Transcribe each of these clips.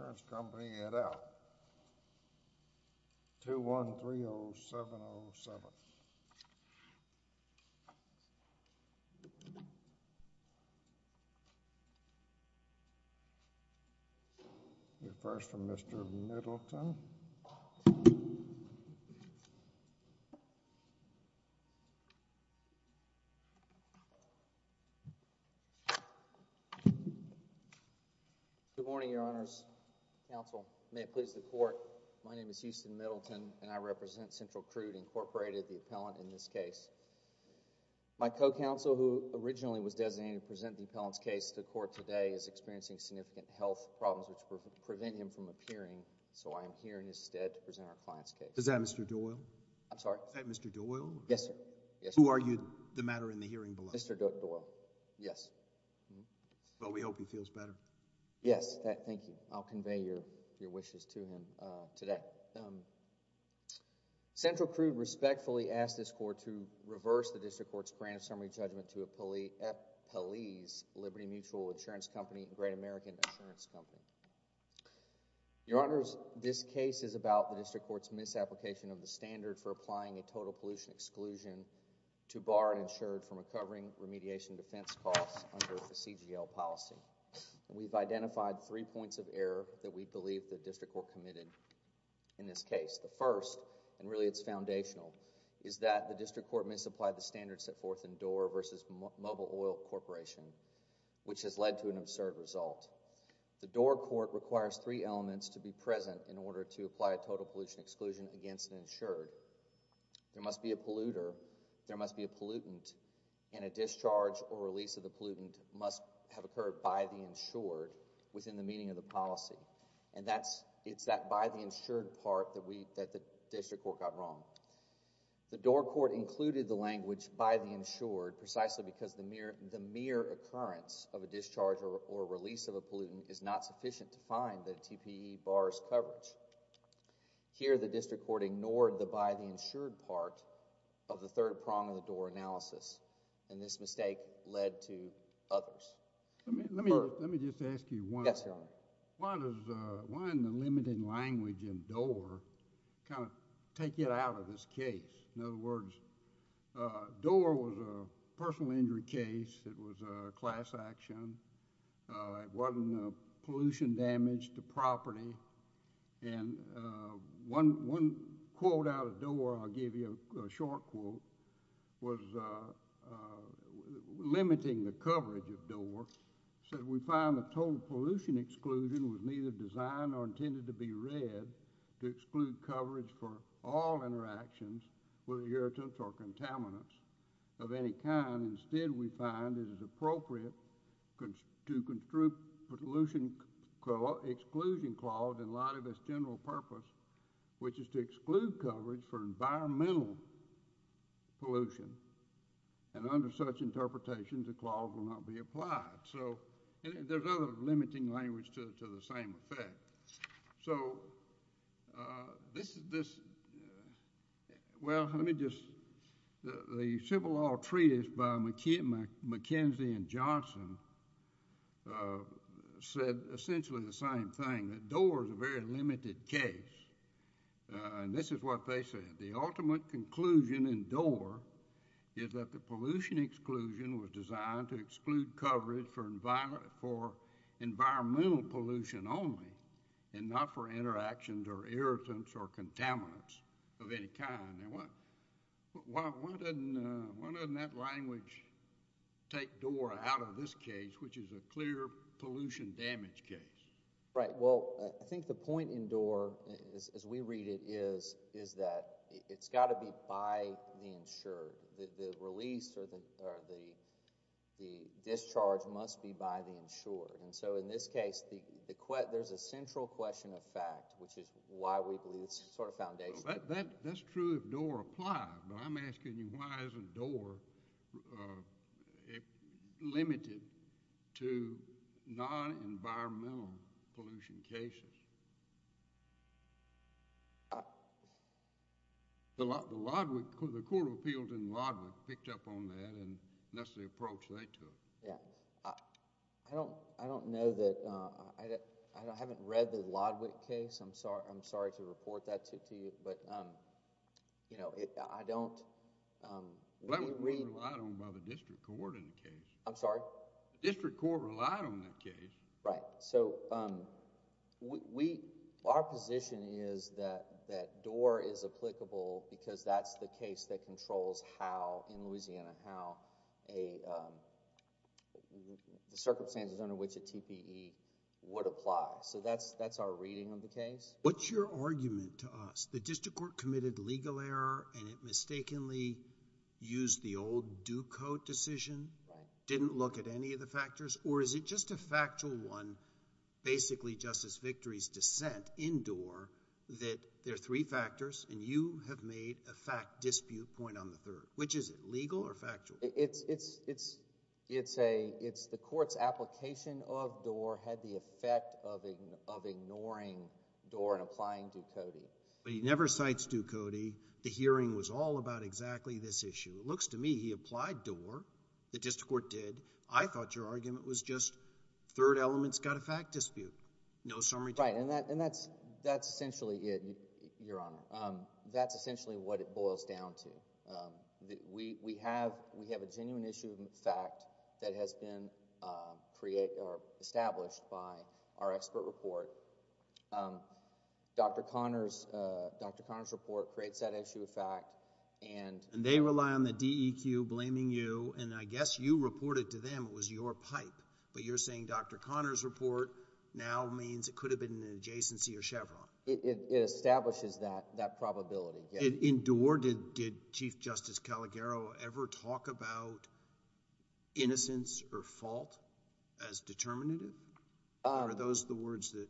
Currents Company, Eddell, 2130707. Reference from Mr. Middleton. Good morning, Your Honors, Counsel. May it please the Court, my name is Houston Middleton and I represent Central Crude, Inc., the appellant in this case. My co-counsel, who originally was designated to present the appellant's case to court today, is experiencing significant health problems which prevent him from appearing, so I am here in his stead to present our client's case. Is that Mr. Doyle? I'm sorry? Is that Mr. Doyle? Yes, sir. Who argued the matter in the hearing below? Mr. Doyle, yes. Well, we hope he feels better. Yes, thank you. I'll convey your wishes to him today. Central Crude respectfully asks this Court to reverse the District Court's grant of temporary judgment to Appellees Liberty Mutual Insurance Company and Great American Insurance Company. Your Honors, this case is about the District Court's misapplication of the standard for applying a total pollution exclusion to bar an insured from recovering remediation defense costs under the CGL policy. We've identified three points of error that we believe the District Court committed in this case. The first, and really it's foundational, is that the District Court misapplied the language in Doar v. Mobile Oil Corporation, which has led to an absurd result. The Doar Court requires three elements to be present in order to apply a total pollution exclusion against an insured. There must be a polluter, there must be a pollutant, and a discharge or release of the pollutant must have occurred by the insured within the meaning of the policy. And it's that by the insured part that the District Court got wrong. The Doar Court included the language by the insured precisely because the mere occurrence of a discharge or release of a pollutant is not sufficient to find that a TPE bars coverage. Here, the District Court ignored the by the insured part of the third prong of the Doar analysis, and this mistake led to others. Yes, Your Honor. I'm going to take it out of this case. In other words, Doar was a personal injury case. It was a class action. It wasn't pollution damage to property. And one quote out of Doar, I'll give you a short quote, was limiting the coverage of Doar. It said, We found the total pollution exclusion was neither designed nor intended to be read to exclude coverage for all interactions with irritants or contaminants of any kind. Instead, we find it is appropriate to construe pollution exclusion clause in light of its general purpose, which is to exclude coverage for environmental pollution. And under such interpretations, the clause will not be applied. So, there's other limiting language to the same effect. So, this, well, let me just, the civil law treatise by McKenzie and Johnson said essentially the same thing, that Doar is a very limited case. And this is what they said. They said that the ultimate conclusion in Doar is that the pollution exclusion was designed to exclude coverage for environmental pollution only and not for interactions or irritants or contaminants of any kind. Now, why doesn't that language take Doar out of this case, which is a clear pollution damage case? Right. Well, I think the point in Doar, as we read it, is that it's got to be by the insured. The release or the discharge must be by the insured. And so, in this case, there's a central question of fact, which is why we believe it's sort of foundational. That's true if Doar applied, but I'm asking you why isn't Doar limited to non-environmental pollution cases? The court of appeals in Lodwick picked up on that and that's the approach they took. Yeah. I don't know that, I haven't read the Lodwick case. I'm sorry to report that to you, but I don't... That was relied on by the district court in the case. I'm sorry? The district court relied on that case. Right. So, our position is that Doar is applicable because that's the case that controls how, in Louisiana, how the circumstances under which a TPE would apply. So, that's our reading of the case. What's your argument to us? The district court committed legal error and it mistakenly used the old Ducote decision, didn't look at any of the factors, or is it just a factual one, basically Justice Victory's dissent in Doar that there are three factors and you have made a fact dispute point on the third? Which is it, legal or factual? It's the court's application of Doar had the effect of ignoring Doar and applying Ducote. But he never cites Ducote. The hearing was all about exactly this issue. It looks to me he applied Doar. The district court did. I thought your argument was just third element's got a fact dispute. No summary... Right, and that's essentially it, Your Honor. That's essentially what it boils down to. We have a genuine issue of fact that has been established by our expert report. Dr. Conner's report creates that issue of fact and... And they rely on the DEQ blaming you and I guess you reported to them it was your pipe. But you're saying Dr. Conner's report now means it could have been an adjacency or Chevron. It establishes that probability. In Doar, did Chief Justice Calagaro ever talk about innocence or fault as determinative? Are those the words that...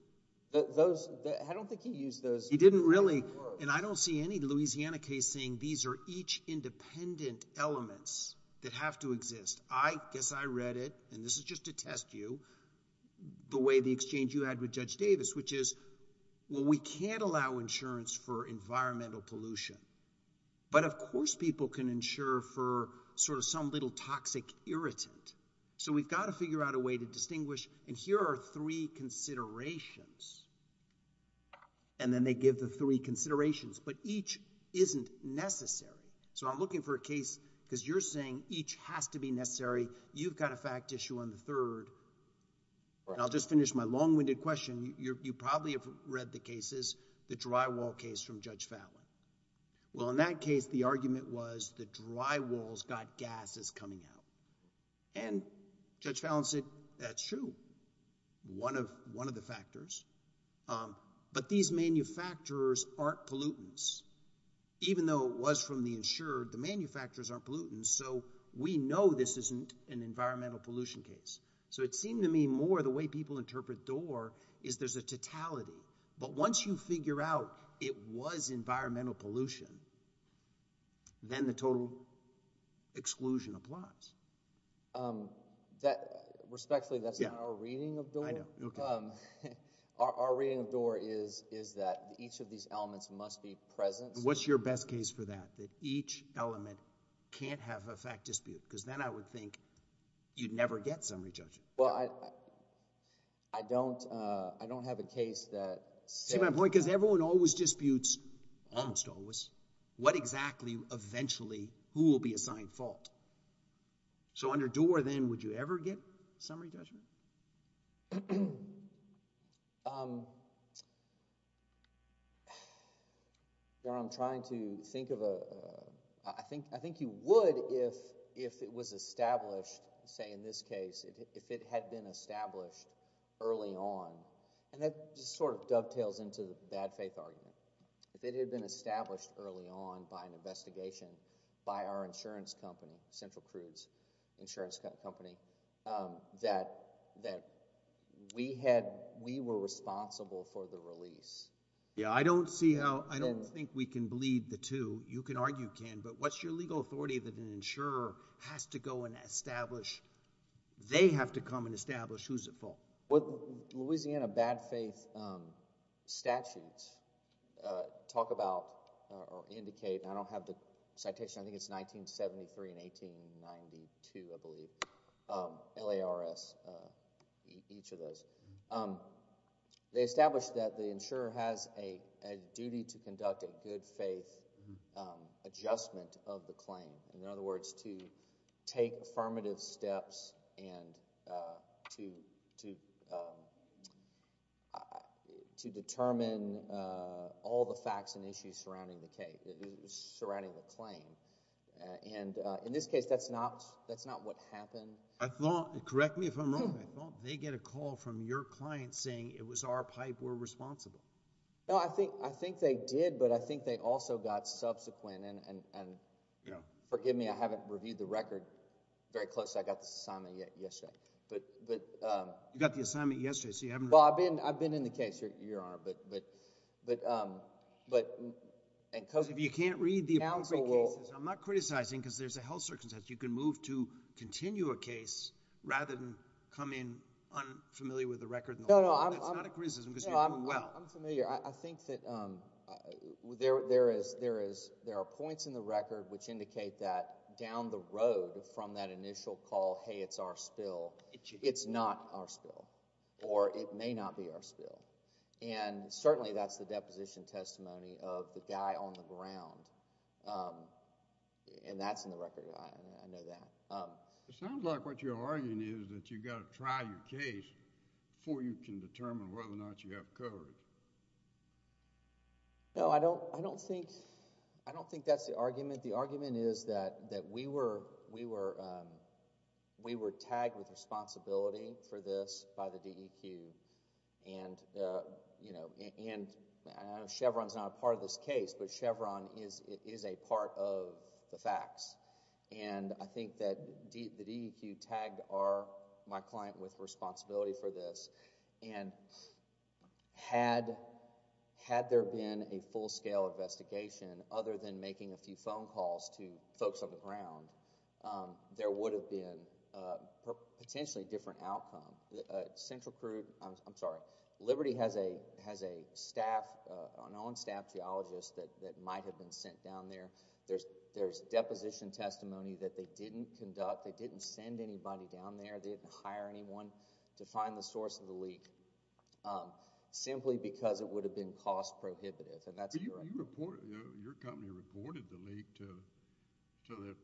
I don't think he used those... He didn't really. And I don't see any Louisiana case saying these are each independent elements that have to exist. I guess I read it, and this is just to test you, the way the exchange you had with Judge Davis, which is, well, we can't allow insurance for environmental pollution. But, of course, people can insure for sort of some little toxic irritant. So we've got to figure out a way to distinguish. And here are three considerations. And then they give the three considerations. But each isn't necessary. So I'm looking for a case because you're saying each has to be necessary. You've got a fact issue on the third. And I'll just finish my long-winded question. You probably have read the cases, the drywall case from Judge Fallon. Well, in that case, the argument was the drywall's got gases coming out. And Judge Fallon said, that's true, one of the factors. But these manufacturers aren't pollutants. Even though it was from the insured, the manufacturers aren't pollutants. And so we know this isn't an environmental pollution case. So it seemed to me more the way people interpret DOOR is there's a totality. But once you figure out it was environmental pollution, then the total exclusion applies. Respectfully, that's not our reading of DOOR. Our reading of DOOR is that each of these elements must be present. What's your best case for that, that each element can't have a fact dispute? Because then I would think you'd never get summary judgment. Well, I don't have a case that says— See my point? Because everyone always disputes, almost always, what exactly, eventually, who will be assigned fault. So under DOOR then, would you ever get summary judgment? I'm trying to think of a—I think you would if it was established, say in this case, if it had been established early on. And that just sort of dovetails into the bad faith argument. If it had been established early on by an investigation by our insurance company, Central Crudes Insurance Company, that we were responsible for the release. Yeah, I don't see how—I don't think we can bleed the two. You can argue can, but what's your legal authority that an insurer has to go and establish— they have to come and establish who's at fault? What Louisiana bad faith statutes talk about or indicate— and I don't have the citation, I think it's 1973 and 1892, I believe, LARS, each of those. They establish that the insurer has a duty to conduct a good faith adjustment of the claim. In other words, to take affirmative steps and to determine all the facts and issues surrounding the claim. And in this case, that's not what happened. I thought—correct me if I'm wrong—I thought they get a call from your client saying it was our pipe we're responsible. No, I think they did, but I think they also got subsequent— and forgive me, I haven't reviewed the record very closely. I got this assignment yesterday. You got the assignment yesterday, so you haven't— Well, I've been in the case, Your Honor, but— Because if you can't read the appropriate cases, I'm not criticizing because there's a health circumstance. You can move to continue a case rather than come in unfamiliar with the record. No, no, I'm— It's not a criticism because you're doing well. I'm familiar. I think that there are points in the record which indicate that down the road from that initial call, hey, it's our spill, it's not our spill, or it may not be our spill. And certainly that's the deposition testimony of the guy on the ground, and that's in the record. I know that. It sounds like what you're arguing is that you've got to try your case before you can determine whether or not you have coverage. No, I don't think that's the argument. The argument is that we were tagged with responsibility for this by the DEQ, and Chevron's not a part of this case, but Chevron is a part of the facts. And I think that the DEQ tagged my client with responsibility for this. And had there been a full-scale investigation other than making a few phone calls to folks on the ground, there would have been a potentially different outcome. Central Crew—I'm sorry. Liberty has a staff, an on-staff geologist that might have been sent down there. There's deposition testimony that they didn't conduct. They didn't send anybody down there. They didn't hire anyone to find the source of the leak simply because it would have been cost-prohibitive, and that's correct. But your company reported the leak to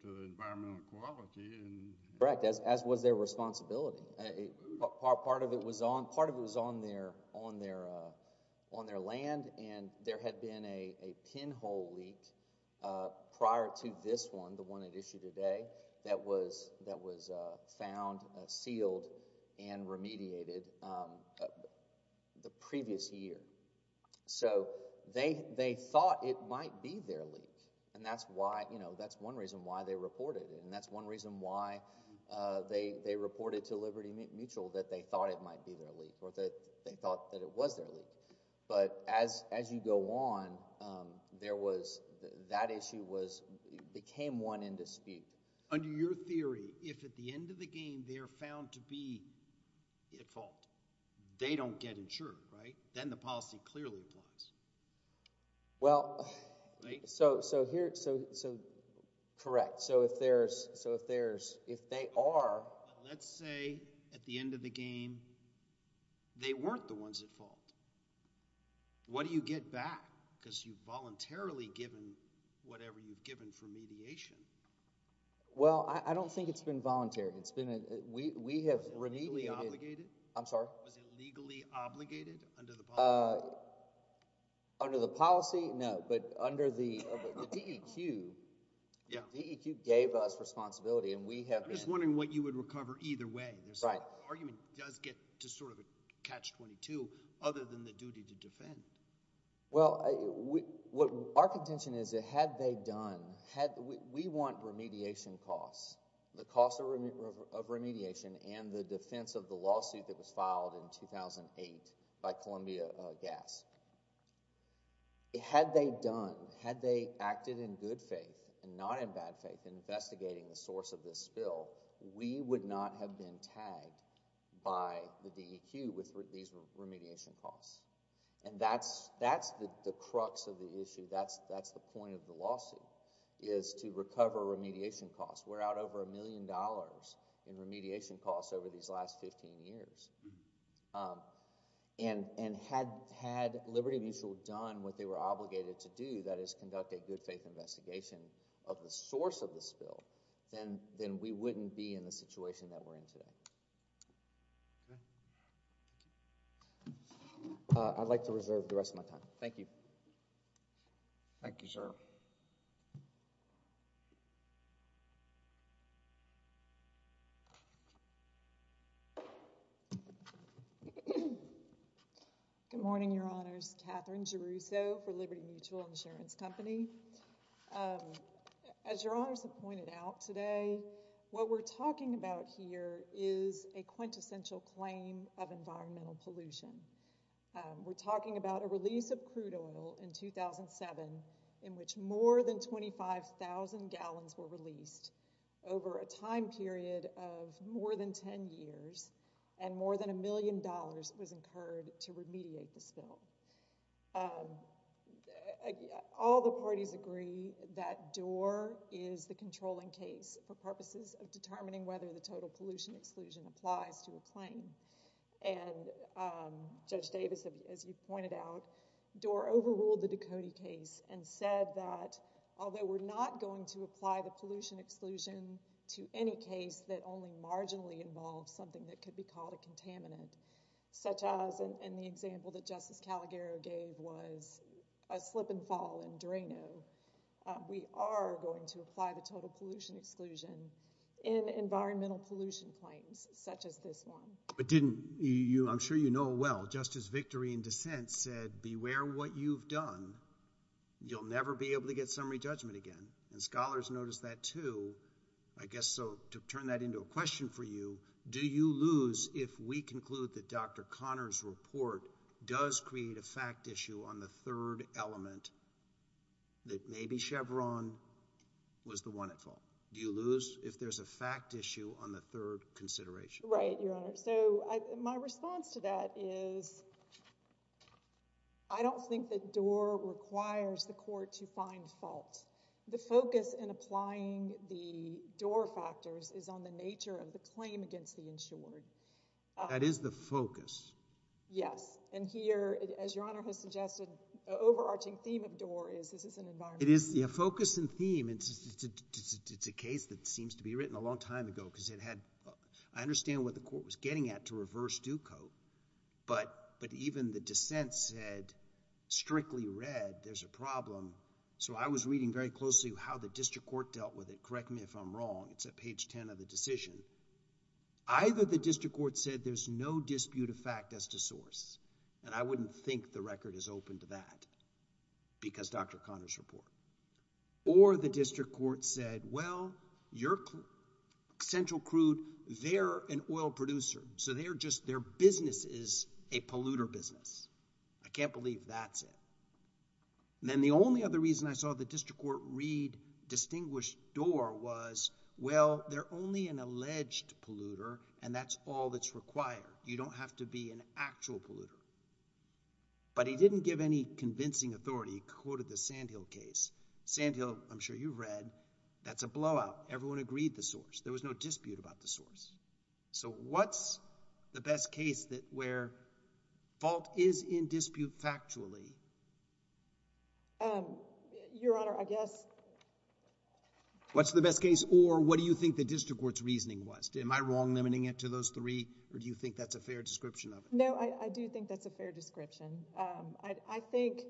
the Environmental Quality. Correct, as was their responsibility. Part of it was on their land, and there had been a pinhole leak prior to this one, the one at issue today, that was found, sealed, and remediated the previous year. So they thought it might be their leak, and that's one reason why they reported it, and that's one reason why they reported to Liberty Mutual that they thought it might be their leak or that they thought that it was their leak. But as you go on, that issue became one in dispute. Under your theory, if at the end of the game they're found to be at fault, they don't get insured, right? Then the policy clearly applies. Well, so here – so correct. So if there's – if they are – But let's say at the end of the game they weren't the ones at fault. What do you get back because you've voluntarily given whatever you've given for mediation? Well, I don't think it's been voluntary. It's been – we have remediated – Was it legally obligated? I'm sorry? Was it legally obligated under the policy? Under the policy, no, but under the DEQ, the DEQ gave us responsibility, and we have been – I'm just wondering what you would recover either way. Right. The argument does get to sort of a catch-22 other than the duty to defend. Well, what our contention is that had they done – we want remediation costs. The cost of remediation and the defense of the lawsuit that was filed in 2008 by Columbia Gas. Had they done – had they acted in good faith and not in bad faith in investigating the source of this spill, we would not have been tagged by the DEQ with these remediation costs. And that's the crux of the issue. That's the point of the lawsuit is to recover remediation costs. We're out over a million dollars in remediation costs over these last 15 years. And had Liberty Mutual done what they were obligated to do, that is conduct a good faith investigation of the source of the spill, then we wouldn't be in the situation that we're in today. I'd like to reserve the rest of my time. Thank you. Thank you, sir. Good morning, Your Honors. Katherine Jeruso for Liberty Mutual Insurance Company. As Your Honors have pointed out today, what we're talking about here is a quintessential claim of environmental pollution. We're talking about a release of crude oil in 2007 in which more than 25,000 gallons were released over a time period of more than 10 years, and more than a million dollars was incurred to remediate the spill. All the parties agree that DOOR is the controlling case for purposes of determining whether the total pollution exclusion applies to a claim. And Judge Davis, as you pointed out, DOOR overruled the Ducote case and said that although we're not going to apply the pollution exclusion to any case that only marginally involves something that could be called a contaminant, such as in the example that Justice Calagaro gave was a slip and fall in Drano, we are going to apply the total pollution exclusion in environmental pollution claims such as this one. But didn't you, I'm sure you know well, Justice Victory in dissent said beware what you've done. You'll never be able to get summary judgment again. And scholars noticed that too. I guess so to turn that into a question for you, do you lose if we conclude that Dr. Connors' report does create a fact issue on the third element that maybe Chevron was the one at fault? Do you lose if there's a fact issue on the third consideration? Right, Your Honor. So my response to that is I don't think that DOOR requires the court to find fault. The focus in applying the DOOR factors is on the nature of the claim against the insured. That is the focus. Yes. And here, as Your Honor has suggested, the overarching theme of DOOR is this is an environment. It is a focus and theme. It's a case that seems to be written a long time ago because it had, I understand what the court was getting at to reverse Ducote. But even the dissent said strictly red, there's a problem. So I was reading very closely how the district court dealt with it. Correct me if I'm wrong. It's at page 10 of the decision. Either the district court said there's no dispute of fact as to source, and I wouldn't think the record is open to that because Dr. Connors' report. Or the district court said, well, you're central crude. They're an oil producer. So they're just their business is a polluter business. I can't believe that's it. Then the only other reason I saw the district court read distinguished DOOR was, well, they're only an alleged polluter, and that's all that's required. You don't have to be an actual polluter. But he didn't give any convincing authority. He quoted the Sandhill case. Sandhill, I'm sure you've read. That's a blowout. Everyone agreed the source. There was no dispute about the source. So what's the best case where fault is in dispute factually? Your Honor, I guess. What's the best case? Or what do you think the district court's reasoning was? Am I wrong limiting it to those three? Or do you think that's a fair description of it? No, I do think that's a fair description. I think,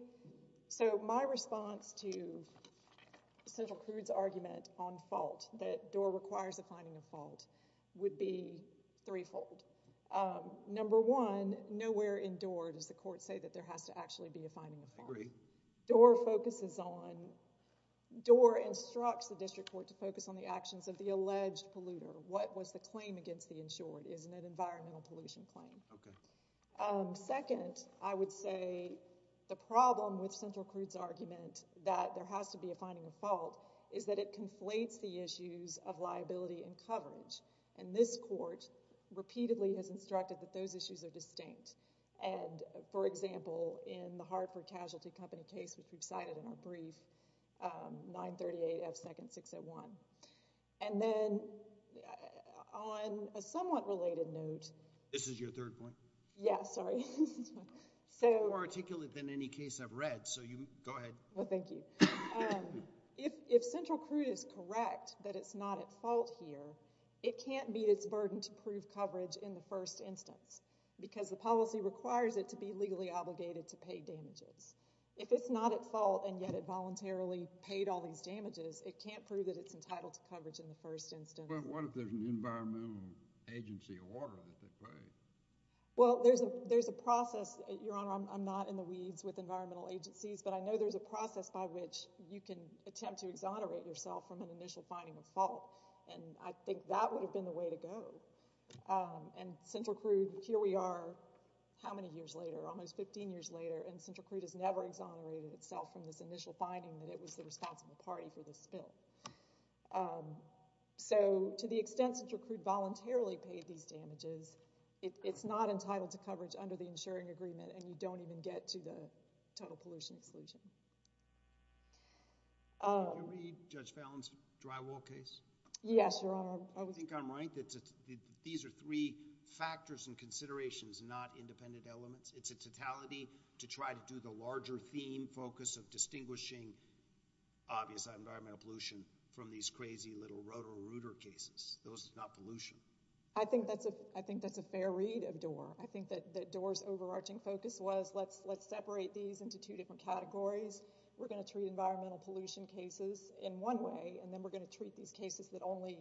so my response to Senator Crude's argument on fault, that DOOR requires a finding of fault, would be threefold. Number one, nowhere in DOOR does the court say that there has to actually be a finding of fault. I agree. DOOR focuses on, DOOR instructs the district court to focus on the actions of the alleged polluter. What was the claim against the insured? Isn't it an environmental pollution claim? Okay. Second, I would say the problem with Senator Crude's argument that there has to be a finding of fault is that it conflates the issues of liability and coverage. And this court repeatedly has instructed that those issues are distinct. And, for example, in the Hartford Casualty Company case, which we've cited in our brief, 938 F. Second 601. And then, on a somewhat related note. This is your third point? Yeah, sorry. It's more articulate than any case I've read, so you, go ahead. Well, thank you. If Central Crude is correct that it's not at fault here, it can't meet its burden to prove coverage in the first instance. Because the policy requires it to be legally obligated to pay damages. If it's not at fault, and yet it voluntarily paid all these damages, it can't prove that it's entitled to coverage in the first instance. But what if there's an environmental agency award that they pay? Well, there's a process. Your Honor, I'm not in the weeds with environmental agencies, but I know there's a process by which you can attempt to exonerate yourself from an initial finding of fault. And I think that would have been the way to go. And Central Crude, here we are, how many years later? Almost 15 years later, and Central Crude has never exonerated itself from this initial finding that it was the responsible party for this spill. So, to the extent Central Crude voluntarily paid these damages, it's not entitled to coverage under the insuring agreement, and you don't even get to the total pollution exclusion. Did you read Judge Fallon's drywall case? Yes, Your Honor. I think I'm right that these are three factors and considerations, not independent elements. It's a totality to try to do the larger theme focus of distinguishing obvious environmental pollution from these crazy little rotor-rooter cases. Those are not pollution. I think that's a fair read of Doar. I think that Doar's overarching focus was, let's separate these into two different categories. We're going to treat environmental pollution cases in one way, and then we're going to treat these cases that only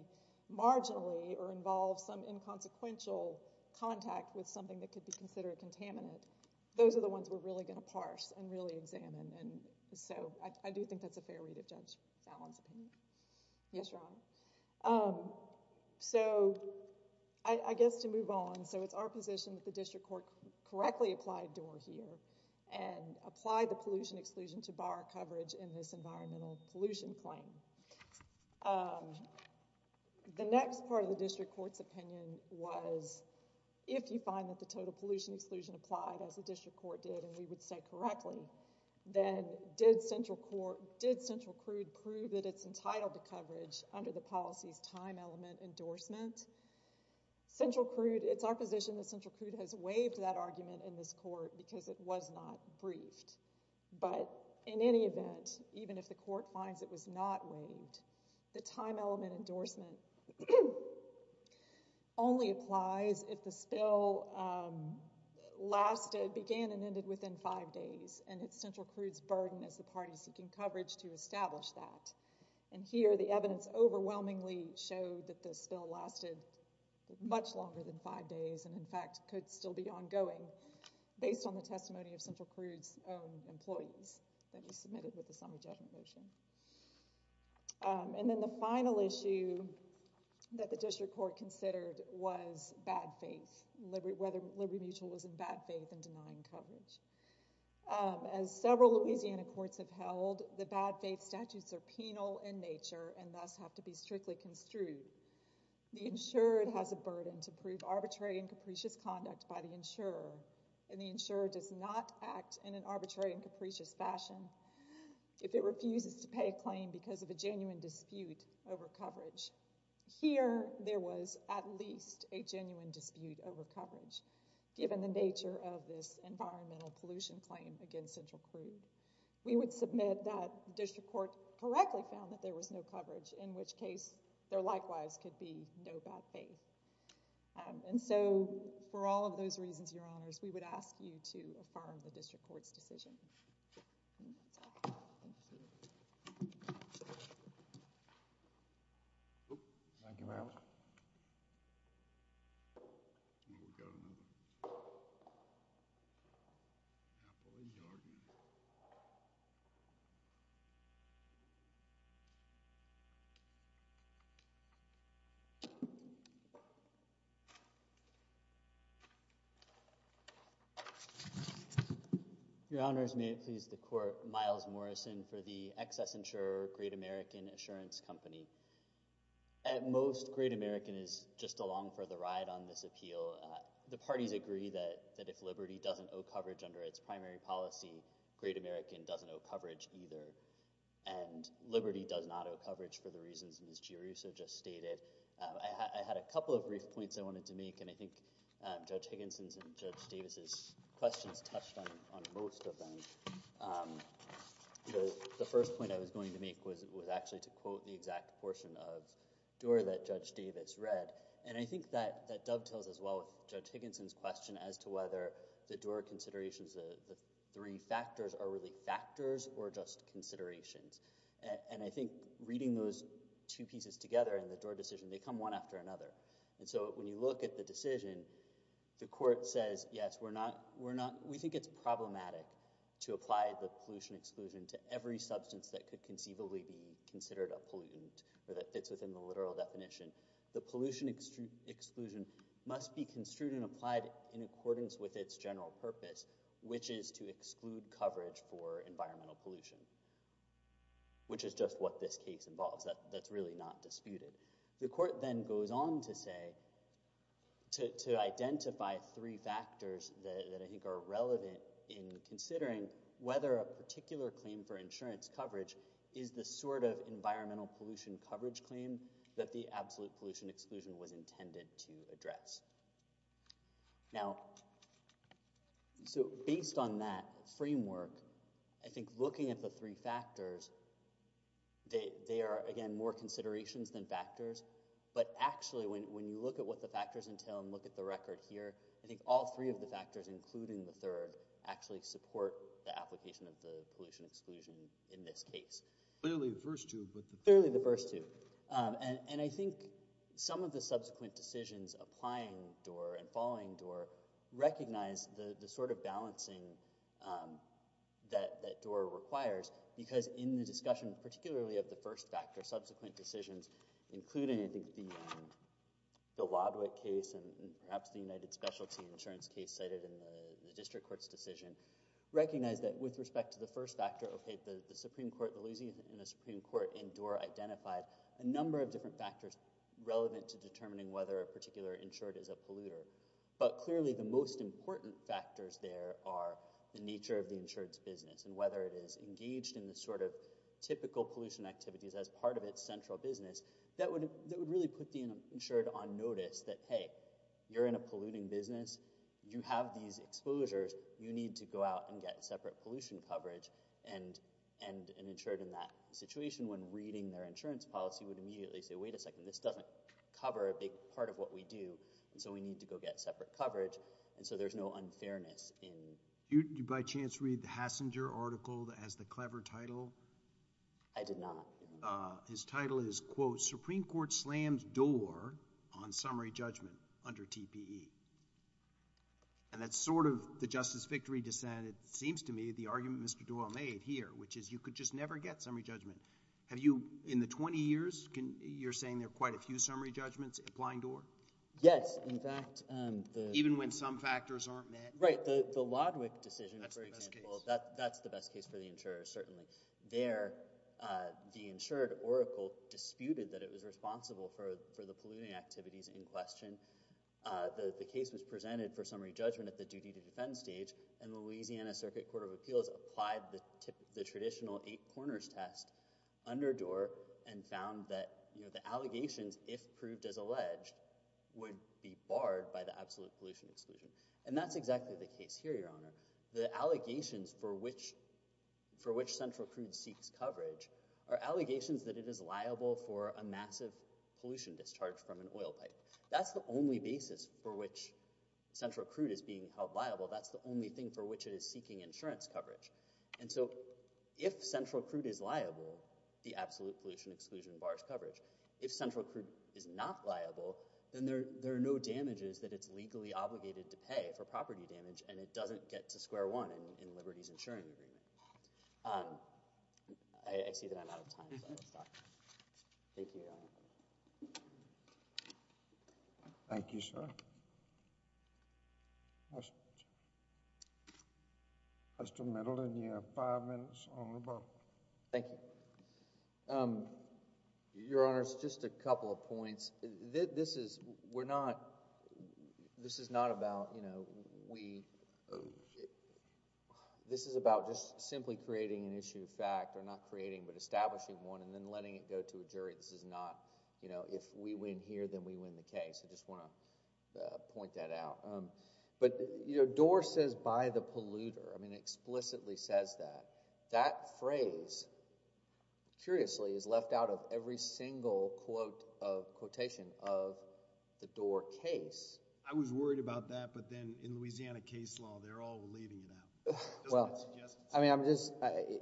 marginally or involve some inconsequential contact with something that could be considered a contaminant. Those are the ones we're really going to parse and really examine. And so, I do think that's a fair read of Judge Fallon's opinion. Yes, Your Honor. So, I guess to move on. So, it's our position that the district court correctly applied Doar here and applied the pollution exclusion to bar coverage in this environmental pollution claim. The next part of the district court's opinion was, if you find that the total pollution exclusion applied, as the district court did, and we would say correctly, then did Central Crude prove that it's entitled to coverage under the policy's time element endorsement? Central Crude, it's our position that Central Crude has waived that argument in this court because it was not briefed. But, in any event, even if the court finds it was not waived, the time element endorsement only applies if the spill lasted, began and ended within five days, and it's Central Crude's burden as the party seeking coverage to establish that. And here, the evidence overwhelmingly showed that the spill lasted much longer than five days and, in fact, could still be ongoing, based on the testimony of Central Crude's own employees that he submitted with the summer judgment motion. And then the final issue that the district court considered was bad faith, whether Liberty Mutual was in bad faith in denying coverage. As several Louisiana courts have held, the bad faith statutes are penal in nature and thus have to be strictly construed. The insurer has a burden to prove arbitrary and capricious conduct by the insurer, and the insurer does not act in an arbitrary and capricious fashion if it refuses to pay a claim because of a genuine dispute over coverage. Here, there was at least a genuine dispute over coverage, given the nature of this environmental pollution claim against Central Crude. We would submit that the district court correctly found that there was no coverage, in which case there likewise could be no bad faith. And so, for all of those reasons, Your Honors, we would ask you to affirm the district court's decision. Thank you very much. Your Honors, may it please the court, Miles Morrison for the Excess Insurer Great American Assurance Company. At most, Great American is just along for the ride on this appeal. The parties agree that if Liberty doesn't owe coverage under its primary policy, Great American doesn't owe coverage either. And Liberty does not owe coverage for the reasons Ms. Giruso just stated. I had a couple of brief points I wanted to make, and I think Judge Higginson's and Judge Davis's questions touched on most of them. The first point I was going to make was actually to quote the exact portion of Doar that Judge Davis read. And I think that dovetails as well with Judge Higginson's question as to whether the Doar considerations, the three factors, are really factors or just considerations. And I think reading those two pieces together in the Doar decision, they come one after another. And so when you look at the decision, the court says, yes, we think it's problematic to apply the pollution exclusion to every substance that could conceivably be considered a pollutant or that fits within the literal definition. The pollution exclusion must be construed and applied in accordance with its general purpose, which is to exclude coverage for environmental pollution, which is just what this case involves. That's really not disputed. The court then goes on to say, to identify three factors that I think are relevant in considering whether a particular claim for insurance coverage is the sort of environmental pollution coverage claim that the absolute pollution exclusion was intended to address. Now, so based on that framework, I think looking at the three factors, they are, again, more considerations than factors. But actually, when you look at what the factors entail and look at the record here, I think all three of the factors, including the third, actually support the application of the pollution exclusion in this case. Clearly the first two, but the third. Clearly the first two. And I think some of the subsequent decisions applying Doar and following Doar recognize the sort of balancing that Doar requires. Because in the discussion, particularly of the first factor, subsequent decisions, including I think the Wadwick case and perhaps the United Specialty Insurance case cited in the district court's decision, recognize that with respect to the first factor, okay, the Supreme Court, the Louisiana Supreme Court and Doar identified a number of different factors relevant to determining whether a particular insured is a polluter. But clearly the most important factors there are the nature of the insured's business and whether it is engaged in the sort of typical pollution activities as part of its central business. That would really put the insured on notice that, hey, you're in a polluting business. You have these exposures. You need to go out and get separate pollution coverage. And an insured in that situation, when reading their insurance policy, would immediately say, wait a second, this doesn't cover a big part of what we do. And so we need to go get separate coverage. And so there's no unfairness. Do you by chance read the Hassinger article that has the clever title? I did not. His title is, quote, Supreme Court slams Doar on summary judgment under TPE. And that's sort of the Justice Victory dissent, it seems to me, the argument Mr. Doar made here, which is you could just never get summary judgment. Have you, in the 20 years, you're saying there are quite a few summary judgments applying Doar? Yes. In fact, the— Even when some factors aren't met? Right. The Lodwick decision, for example— That's the best case. There, the insured, Oracle, disputed that it was responsible for the polluting activities in question. The case was presented for summary judgment at the duty to defend stage. And the Louisiana Circuit Court of Appeals applied the traditional eight corners test under Doar and found that the allegations, if proved as alleged, would be barred by the absolute pollution exclusion. And that's exactly the case here, Your Honor. The allegations for which Central Crude seeks coverage are allegations that it is liable for a massive pollution discharge from an oil pipe. That's the only basis for which Central Crude is being held liable. That's the only thing for which it is seeking insurance coverage. And so if Central Crude is liable, the absolute pollution exclusion bars coverage. If Central Crude is not liable, then there are no damages that it's legally obligated to pay for property damage, and it doesn't get to square one in Liberty's insuring agreement. I see that I'm out of time, so I will stop. Thank you, Your Honor. Thank you, sir. Mr. Middleton, you have five minutes on rebuttal. Thank you. Your Honor, just a couple of points. This is, we're not, this is not about, you know, we, this is about just simply creating an issue of fact, or not creating but establishing one, and then letting it go to a jury. This is not, you know, if we win here, then we win the case. I just want to point that out. But, you know, Doar says, by the polluter. I mean, it explicitly says that. That phrase, curiously, is left out of every single quote of quotation of the Doar case. I was worried about that, but then in Louisiana case law, they're all leaving it out. Well, I mean, I'm just,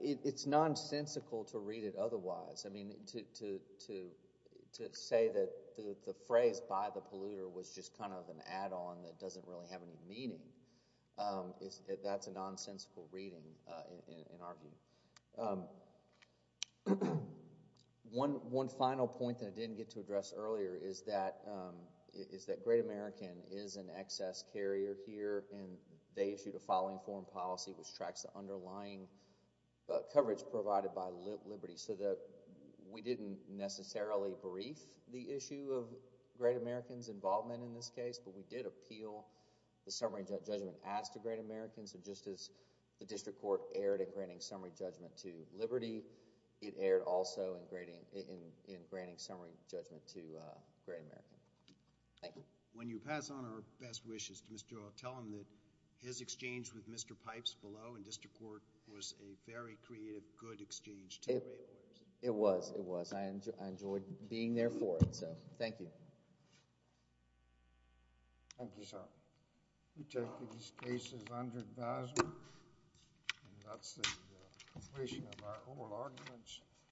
it's nonsensical to read it otherwise. I mean, to say that the phrase, by the polluter, was just kind of an add-on that doesn't really have any meaning, that's a nonsensical reading in our view. One final point that I didn't get to address earlier is that Great American is an excess carrier here, and they issued a filing form policy which tracks the underlying coverage provided by Liberty. We didn't necessarily brief the issue of Great American's involvement in this case, but we did appeal the summary judgment as to Great American. Just as the district court erred at granting summary judgment to Liberty, it erred also in granting summary judgment to Great American. Thank you. When you pass on our best wishes to Mr. Doar, tell him that his exchange with Mr. Pipes below in district court was a very creative, good exchange. It was. It was. I enjoyed being there for him, so thank you. Thank you, sir. We take these cases under advisement, and that's the conclusion of our oral arguments.